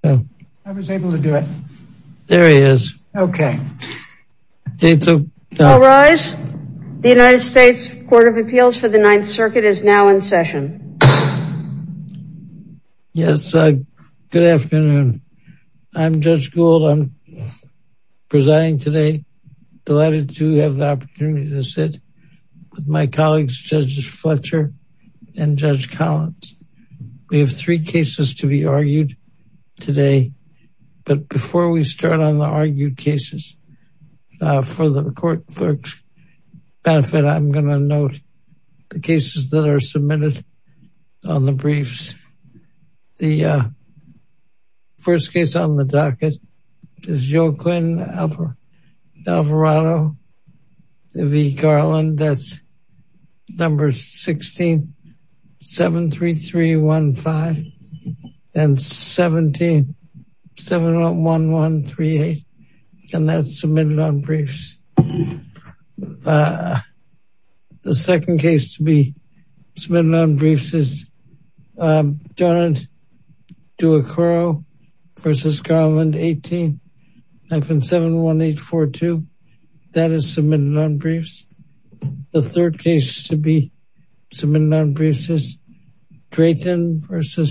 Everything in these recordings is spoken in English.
The United States Court of Appeals for the Ninth Circuit is now in session. Yes, good afternoon. I'm Judge Gould. I'm presiding today. Delighted to have the opportunity to sit with my colleagues, Judge Fletcher and Judge Collins. We have three cases to be argued today. But before we start on the argued cases, for the court clerk's benefit, I'm going to note the cases that are submitted on the briefs. The first case on the docket is Joaquin Alvarado v. Garland. That's number 16, 73315 and 17, 71138. And that's submitted on briefs. The second case to be submitted on briefs is Donald Duacoro v. Garland, 18, 71842. That is submitted on briefs. The third case to be submitted on briefs is Drayton v.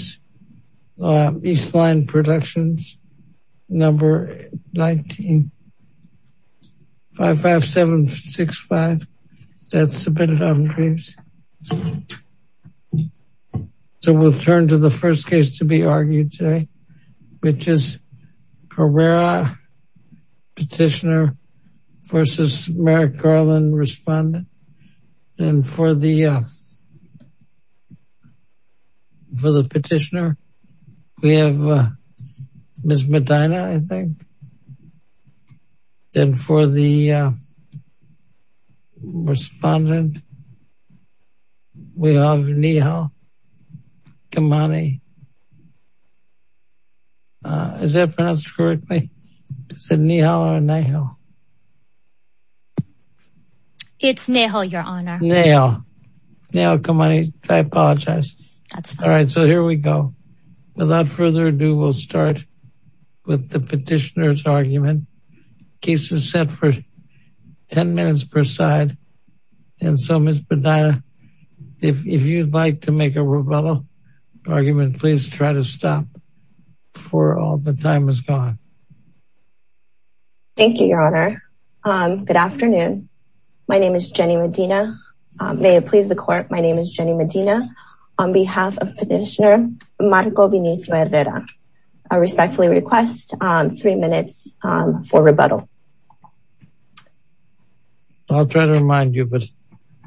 Eastline Productions, number 19, 55765. That's submitted on briefs. So we'll turn to the first case to be argued today, which is Herrera Petitioner v. Merrick Garland Respondent. And for the petitioner, we have Ms. Medina, I think. And for the respondent, we have Nehal Kamani. Is that pronounced correctly? Is it Nehal or Nehal? It's Nehal, Your Honor. Nehal. Nehal Kamani. I apologize. That's fine. So here we go. Without further ado, we'll start with the petitioner's argument. Case is set for 10 minutes per side. And so Ms. Medina, if you'd like to make a rebuttal argument, please try to stop before all the time is gone. Thank you, Your Honor. Good afternoon. My name is Jenny Medina. May it please the court, my name is Jenny Medina on behalf of Petitioner Marco Vinicius Herrera. I respectfully request three minutes for rebuttal. I'll try to remind you, but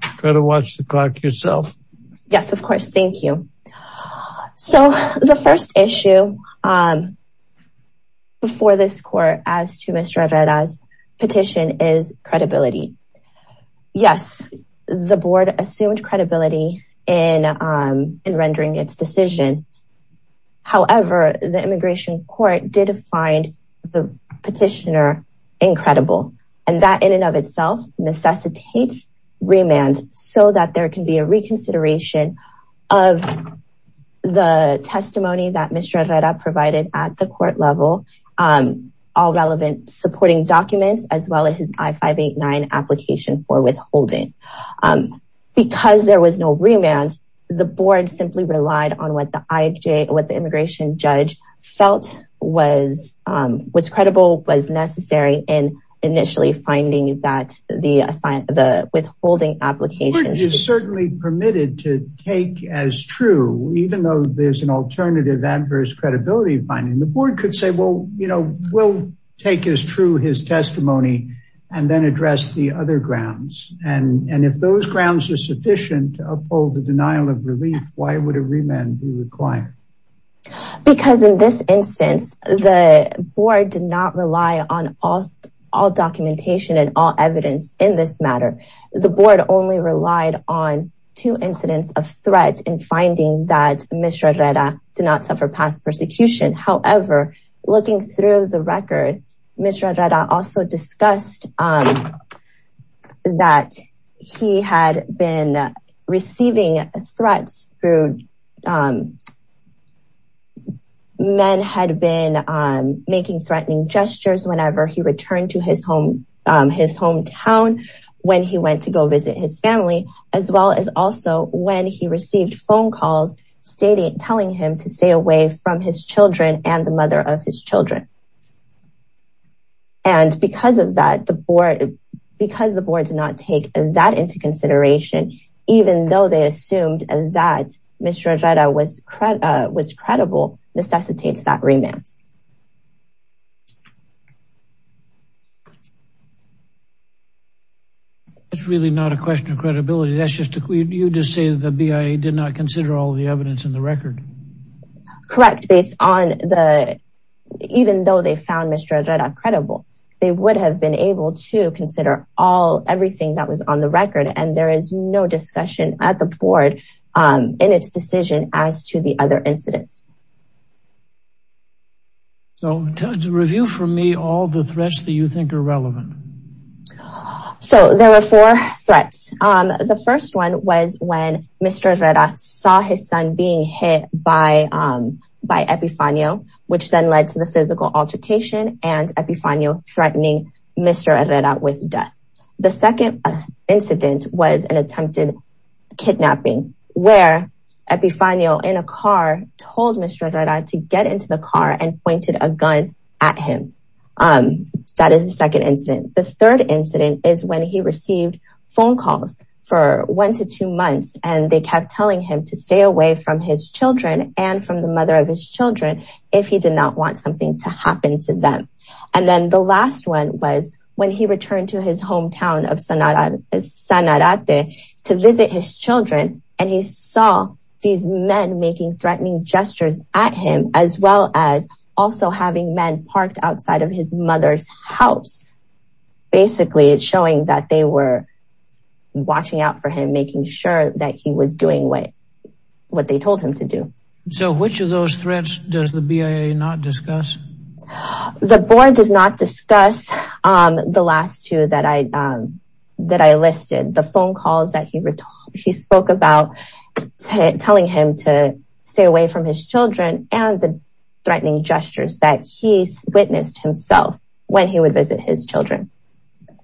try to watch the clock yourself. Yes, of course. Thank you. So the first issue before this court as to Mr. Herrera's petition is credibility. Yes, the board assumed credibility in rendering its decision. However, the immigration court did find the petitioner incredible. And that in and of itself necessitates remand so that there can be a reconsideration of the testimony that Mr. Herrera provided at the court level, all relevant supporting documents, as well as his I-589 application for withholding. Because there was no remand, the board simply relied on what the immigration judge felt was credible, was necessary in initially finding that the withholding application- The board is certainly permitted to take as true, even though there's an alternative adverse credibility finding, the board could say, well, you know, we'll take as true his testimony and then address the other grounds. And if those grounds are sufficient to uphold the denial of relief, why would a remand be required? Because in this instance, the board did not rely on all documentation and all evidence in this matter. The board only relied on two incidents of threat in finding that Mr. Herrera did not suffer past persecution. However, looking through the record, Mr. Herrera also discussed that he had been receiving threats through- Men had been making threatening gestures whenever he returned to his home, his hometown, when he went to go visit his family, as well as also when he received phone calls stating, telling him to stay away from his children and the mother of his children. And because of that, the board, because the board did not take that into consideration, even though they assumed that Mr. Herrera was credible, necessitates that remand. That's really not a question of credibility. That's just, you just say the BIA did not consider all the evidence in the record. Correct. Based on the, even though they found Mr. Herrera credible, they would have been able to consider all, everything that was on the record. And there is no discussion at the board in its decision as to the other incidents. So to review for me, all the threats that you think are relevant. So there were four threats. The first one was when Mr. Herrera saw his son being hit by Epifanio, which then led to the physical altercation and Epifanio threatening Mr. Herrera with death. The second incident was an attempted kidnapping where Epifanio, in a car, told Mr. Herrera to get into the car and pointed a gun at him. That is the second incident. The third incident is when he received phone calls for one to two months, and they kept telling him to stay away from his children and from the mother of his children if he did not want something to happen to them. And then the last one was when he returned to his hometown of Sanarate to visit his children. And he saw these men making threatening gestures at him as well as also having men parked outside of his mother's house. Basically, it's showing that they were watching out for him making sure that he was doing what they told him to do. So which of those threats does the BIA not discuss? The board does not discuss the last two that I listed. The phone calls that he spoke about telling him to stay away from his children and the threatening gestures that he witnessed himself when he would visit his children.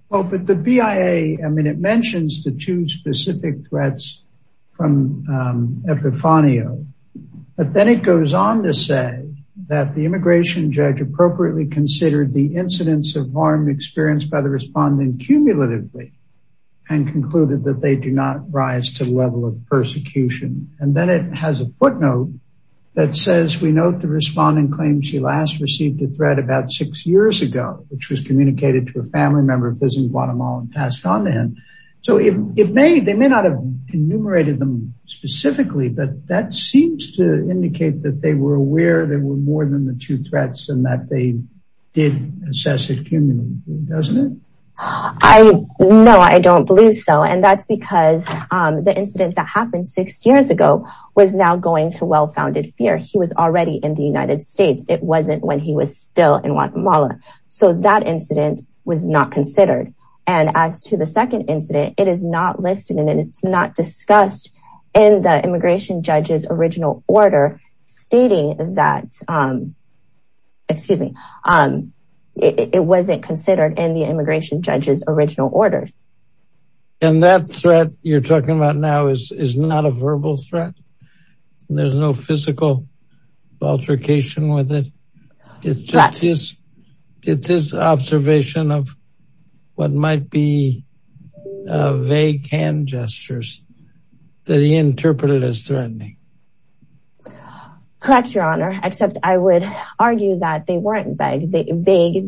Well, but the BIA, I mean, it mentions the two specific threats from Epifanio. But then it goes on to say that the immigration judge appropriately considered the incidents of harm experienced by the respondent cumulatively and concluded that they do not rise to the level of persecution. And then it has a footnote that says we note the respondent claims she last received a threat about six years ago, which was communicated to Guatemala and passed on to him. So they may not have enumerated them specifically, but that seems to indicate that they were aware they were more than the two threats and that they did assess it cumulatively, doesn't it? No, I don't believe so. And that's because the incident that happened six years ago was now going to well-founded fear. He was already in the United States. It wasn't when he was still in Guatemala. So that incident was not considered. And as to the second incident, it is not listed and it's not discussed in the immigration judge's original order stating that, excuse me, it wasn't considered in the immigration judge's original order. And that threat you're talking about now is not a verbal threat. There's no physical altercation with it. It's just his observation of what might be vague hand gestures that he interpreted as threatening. Correct, your honor. Except I would argue that they weren't vague.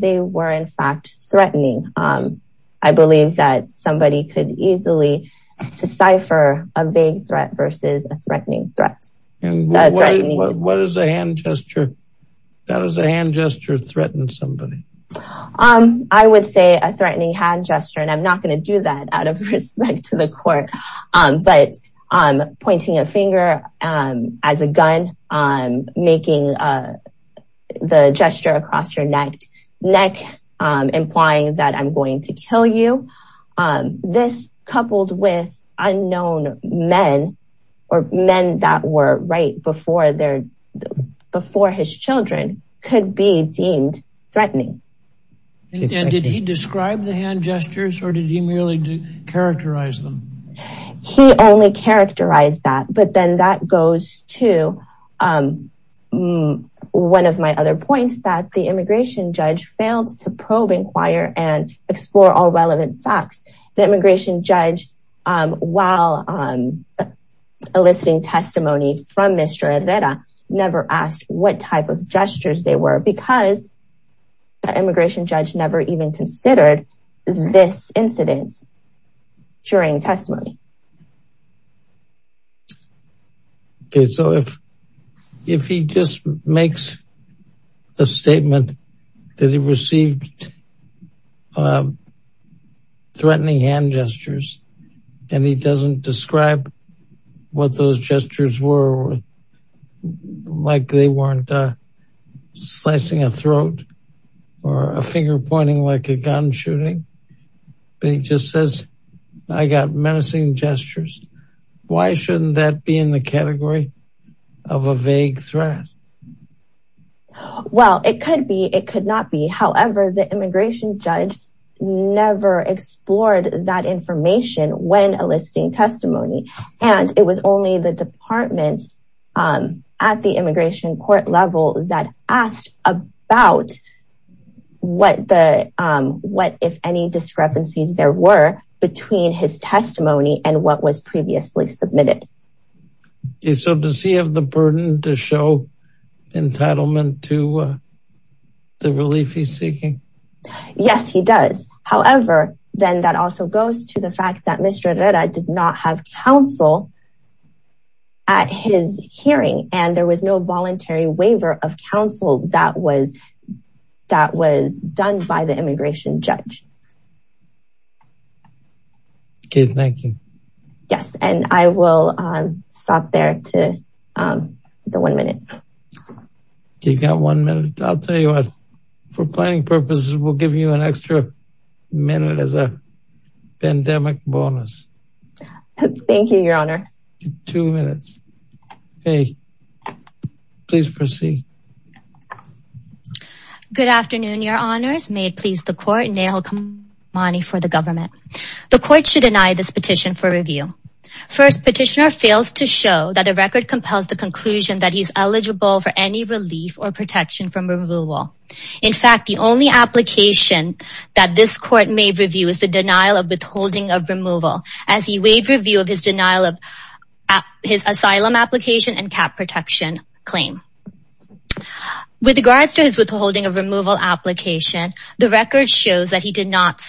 They were in fact threatening. I believe that somebody could easily decipher a vague threat versus a threatening threat. What is a hand gesture? How does a hand gesture threaten somebody? I would say a threatening hand gesture, and I'm not going to do that out of respect to the court, but pointing a finger as a gun, making the gesture across your neck, implying that I'm going to kill you. This coupled with unknown men or men that were right before his children could be deemed threatening. And did he describe the hand gestures or did he merely characterize them? He only characterized that, but then that goes to one of my other points that the immigration judge failed to probe, inquire, and explore all relevant facts. The immigration judge, while eliciting testimony from Mr. Herrera, never asked what type of gestures they were because the immigration judge never even considered this incident during testimony. Okay, so if he just makes a statement that he received threatening hand gestures and he doesn't describe what those gestures were, like they weren't slicing a throat or a finger pointing like a gun shooting, but he just says, I got menacing gestures. Why shouldn't that be in the category of a vague threat? Well, it could be, it could not be. However, the immigration judge never explored that information when eliciting testimony. And it was only the department at the immigration court level that asked about what if any discrepancies there were between his testimony and what was previously submitted. Okay, so does he have the burden to show entitlement to the relief he's seeking? Yes, he does. However, then that also goes to the fact that Mr. Herrera did not have counsel at his hearing and there was no voluntary waiver of counsel that was done by the immigration judge. Okay, thank you. Yes, and I will stop there to the one minute. You got one minute. I'll tell you what, for planning purposes, we'll give you an extra minute as a pandemic bonus. Thank you, your honor. Two minutes. Okay, please proceed. Good afternoon, your honors. May it please the court, Nail Kamani for the government. The court should deny this petition for review. First, petitioner fails to show that the record compels the conclusion that he's eligible for any relief or protection from removal. In fact, the only application that this court may review is the denial of withholding of removal as he waived review of his denial of his asylum application and cap protection claim. With regards to his withholding of removal application, the record shows that he did not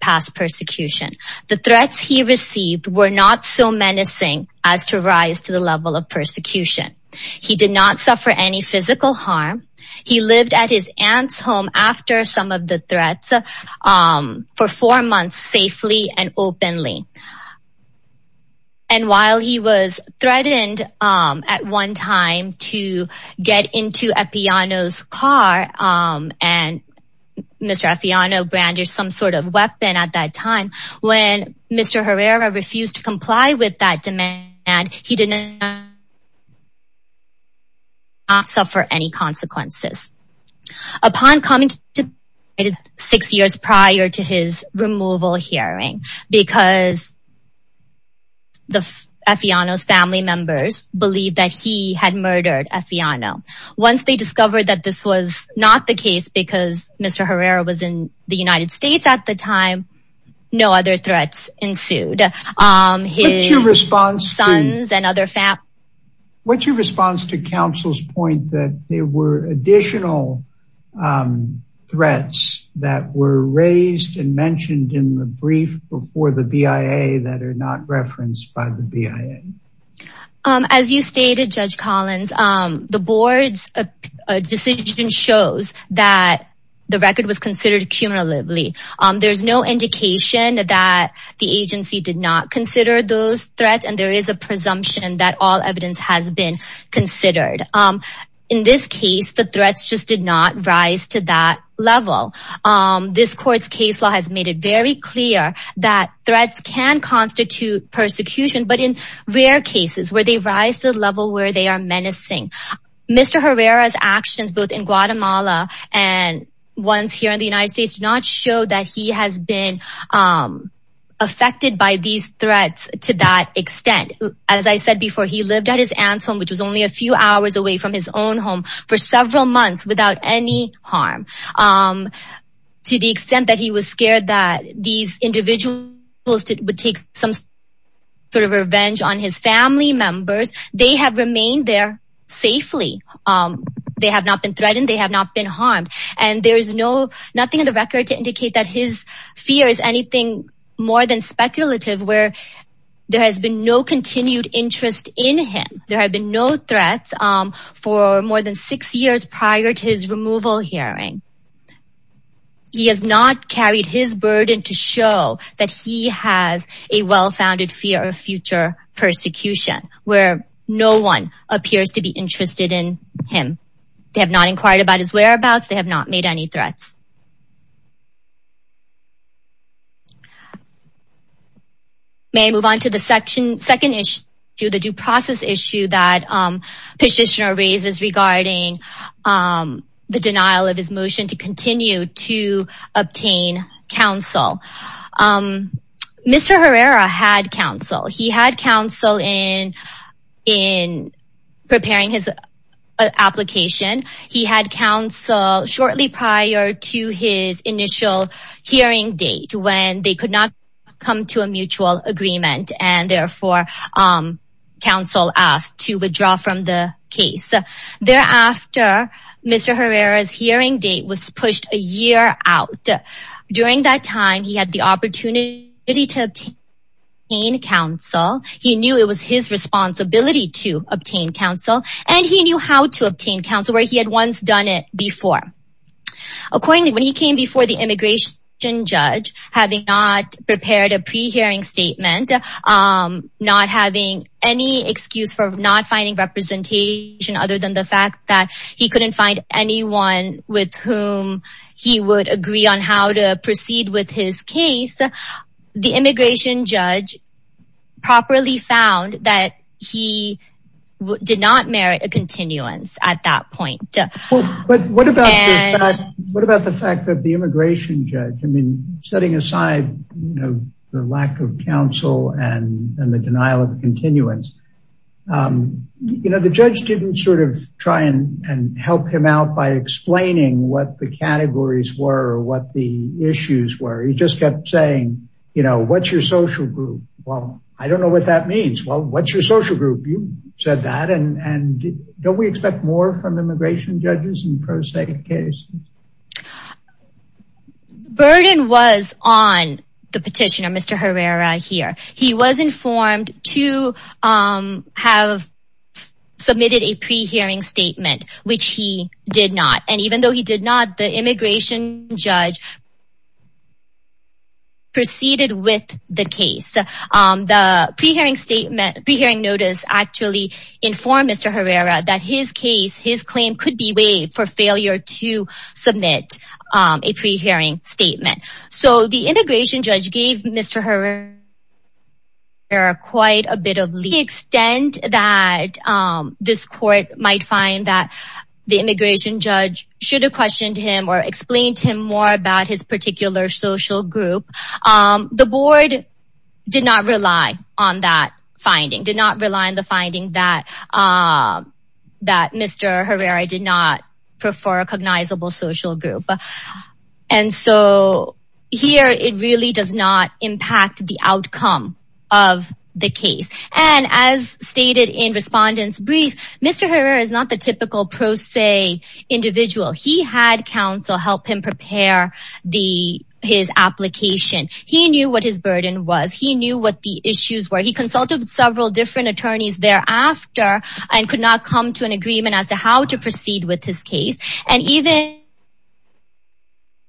pass persecution. The threats he received were not so menacing as to rise to the level of persecution. He did not suffer any physical harm. He lived at his aunt's home after some of the threats for four months safely and openly. And while he was threatened at one time to get into Epiano's car, and Mr. Epiano brandish some sort of weapon at that time, when Mr. Herrera refused to comply with that demand, he did not suffer any consequences. Upon coming to six years prior to his removal hearing, because the Epiano's family members believe that he had murdered Epiano. Once they discovered that this was not the case because Mr. Herrera was in the United States at the time, no other threats ensued. His sons and other family. What's your response to counsel's point that there were additional threats that were raised and mentioned in the brief before the BIA that are not referenced by the BIA? As you stated, Judge Collins, the board's decision shows that the record was considered cumulatively. There's no indication that the agency did not consider those threats and there that level. This court's case law has made it very clear that threats can constitute persecution, but in rare cases where they rise to the level where they are menacing. Mr. Herrera's actions both in Guatemala and ones here in the United States do not show that he has been affected by these threats to that extent. As I said before, he lived at his aunt's home, which was only a few months without any harm. To the extent that he was scared that these individuals would take some sort of revenge on his family members, they have remained there safely. They have not been threatened. They have not been harmed. And there is nothing in the record to indicate that his fear is anything more than speculative where there has been no continued interest in him. There have been no threats for more than six years prior to his removal hearing. He has not carried his burden to show that he has a well-founded fear of future persecution where no one appears to be interested in him. They have not inquired about his whereabouts. They have not made any threats. May I move on to the second issue, the due process issue that Petitioner raises regarding the denial of his motion to continue to obtain counsel. Mr. Herrera had counsel. He had counsel in preparing his application. He had counsel shortly prior to his initial hearing date when they could not come to a mutual agreement and therefore counsel asked to withdraw from the case. Thereafter, Mr. Herrera's hearing date was pushed a year out. During that time, he had the opportunity to obtain counsel. He knew it was his responsibility to obtain counsel and he knew how to obtain counsel where he had once done it before. Accordingly, when he came before the immigration judge, having not prepared a pre-hearing statement, not having any excuse for not finding representation other than he couldn't find anyone with whom he would agree on how to proceed with his case, the immigration judge properly found that he did not merit a continuance at that point. What about the fact that the immigration judge, setting aside the lack of counsel and the denial of continuance, the judge didn't try and help him out by explaining what the categories were or what the issues were. He just kept saying, what's your social group? Well, I don't know what that means. Well, what's your social group? You said that and don't we expect more from immigration judges in the petitioner, Mr. Herrera here. He was informed to have submitted a pre-hearing statement, which he did not. And even though he did not, the immigration judge proceeded with the case. The pre-hearing notice actually informed Mr. Herrera that his case, his claim could be waived for failure to submit a pre-hearing statement. So the immigration judge gave Mr. Herrera quite a bit of leeway. To the extent that this court might find that the immigration judge should have questioned him or explained to him more about his particular social group. The board did not rely on that finding, did not rely on the finding that Mr. Herrera did not prefer a cognizable social group. And so here it really does not impact the outcome of the case. And as stated in respondents brief, Mr. Herrera is not the typical pro se individual. He had counsel help him prepare his application. He knew what his burden was. He knew what the issues were. He consulted several different attorneys thereafter and could not come to an agreement as to how to proceed with his case. And even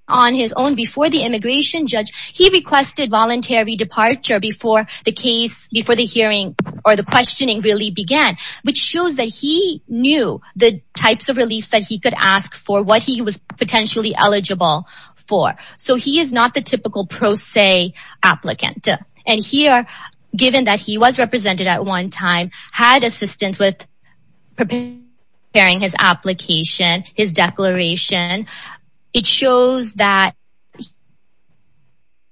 on his own before the immigration judge, he requested voluntary departure before the case, before the hearing or the questioning really began, which shows that he knew the types of reliefs that he could ask for, what he was potentially eligible for. So he is not the typical pro se applicant. And here, given that he was preparing his application, his declaration, it shows that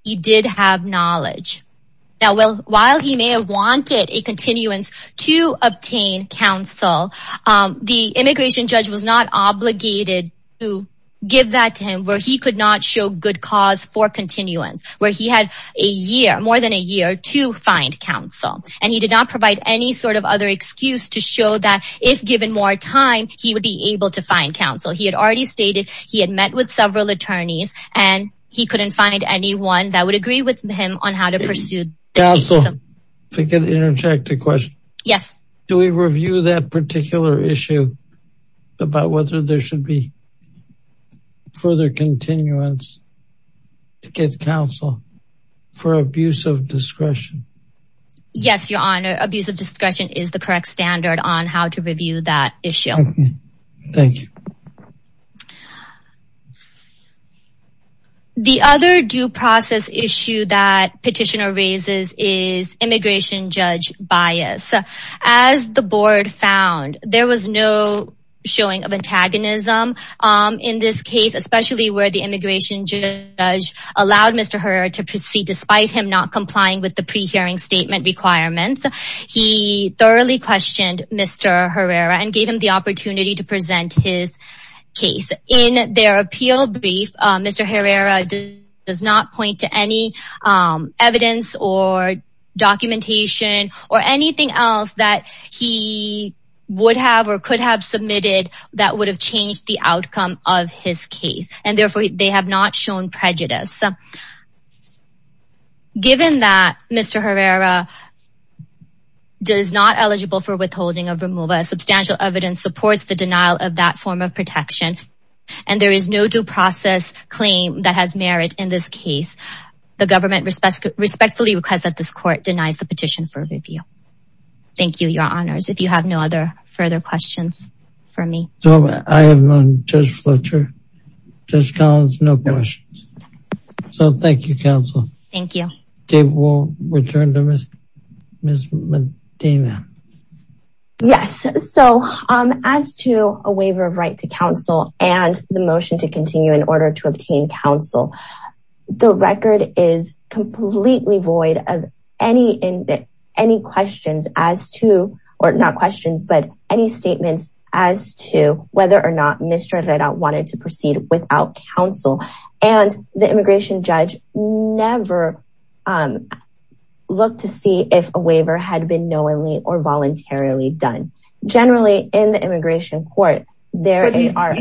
he did have knowledge. Now, while he may have wanted a continuance to obtain counsel, the immigration judge was not obligated to give that to him where he could not show good cause for continuance, where he had a year, more than a year to find counsel. And he did not provide any other excuse to show that if given more time, he would be able to find counsel. He had already stated he had met with several attorneys and he couldn't find anyone that would agree with him on how to pursue the case. Counsel, to interject a question. Yes. Do we review that particular issue about whether there should be further continuance to get counsel for abuse of discretion? Yes, your honor. Abuse of discretion is the correct standard on how to review that issue. Thank you. The other due process issue that petitioner raises is immigration judge bias. As the board found, there was no showing of antagonism in this case, especially where the statement requirements. He thoroughly questioned Mr. Herrera and gave him the opportunity to present his case in their appeal brief. Mr. Herrera does not point to any evidence or documentation or anything else that he would have or could have submitted that would have changed the outcome of his case. And therefore, they have not shown prejudice. Given that Mr. Herrera does not eligible for withholding of removal, substantial evidence supports the denial of that form of protection. And there is no due process claim that has merit in this case. The government respectfully requests that this court denies the petition for review. Thank you, your honors. If you have no other further questions for me. So, I am on Judge Fletcher. Judge Collins, no questions. So, thank you, counsel. Thank you. Dave, we'll return to Ms. Medina. Yes. So, as to a waiver of right to counsel and the motion to continue in order to obtain counsel, the record is completely void of any questions as to or not questions, but any statements as to whether or not Mr. Herrera wanted to proceed without counsel. And the immigration judge never looked to see if a waiver had been knowingly or voluntarily done. Generally, in the immigration court, there are...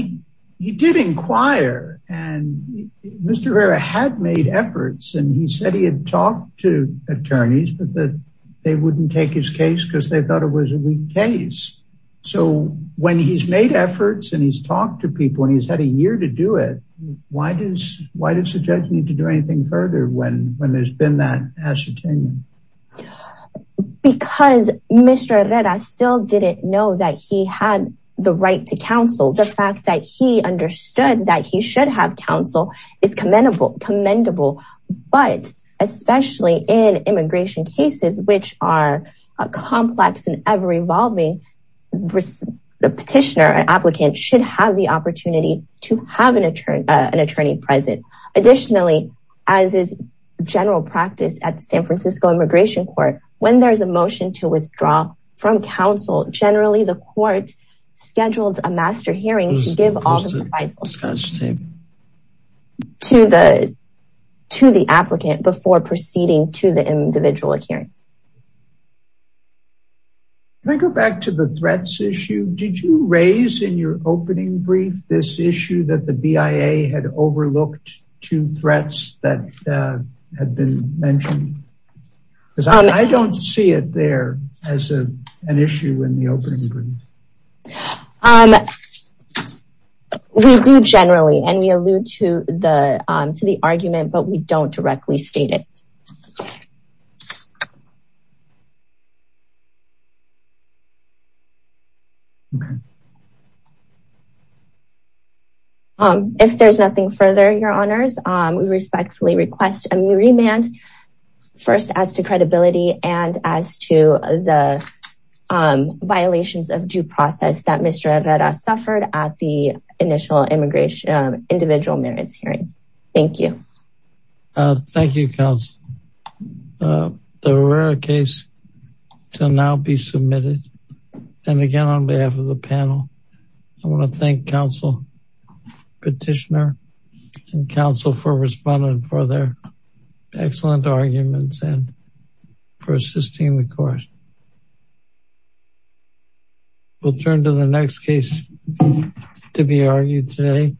He did inquire and Mr. Herrera had made efforts and he said he had talked to attorneys but that they wouldn't take his case because they thought it was a weak case. So, when he's made efforts and he's talked to people and he's had a year to do it, why does the judge need to do anything further when there's been that ascertainment? Because Mr. Herrera still didn't know that he had the right to counsel. The fact that he understood that he should have counsel is commendable. But especially in immigration cases, which are complex and ever-evolving, the petitioner, an applicant, should have the opportunity to have an attorney present. Additionally, as is general practice at the San Francisco Immigration Court, when there's a motion to withdraw from counsel, generally, the court scheduled a master hearing to give all the advice to the applicant before proceeding to individual adherence. Can I go back to the threats issue? Did you raise in your opening brief this issue that the BIA had overlooked two threats that had been mentioned? Because I don't see it there as an issue in the opening brief. We do generally and we allude to the argument, but we don't directly state it. If there's nothing further, Your Honors, we respectfully request a remand, first as to credibility and as to the violations of due process that Mr. Herrera suffered at the individual merits hearing. Thank you. Thank you, counsel. The Herrera case shall now be submitted. And again, on behalf of the panel, I want to thank counsel, petitioner and counsel for responding for their excellent arguments and for assisting the court. We'll turn to the next case to be argued today.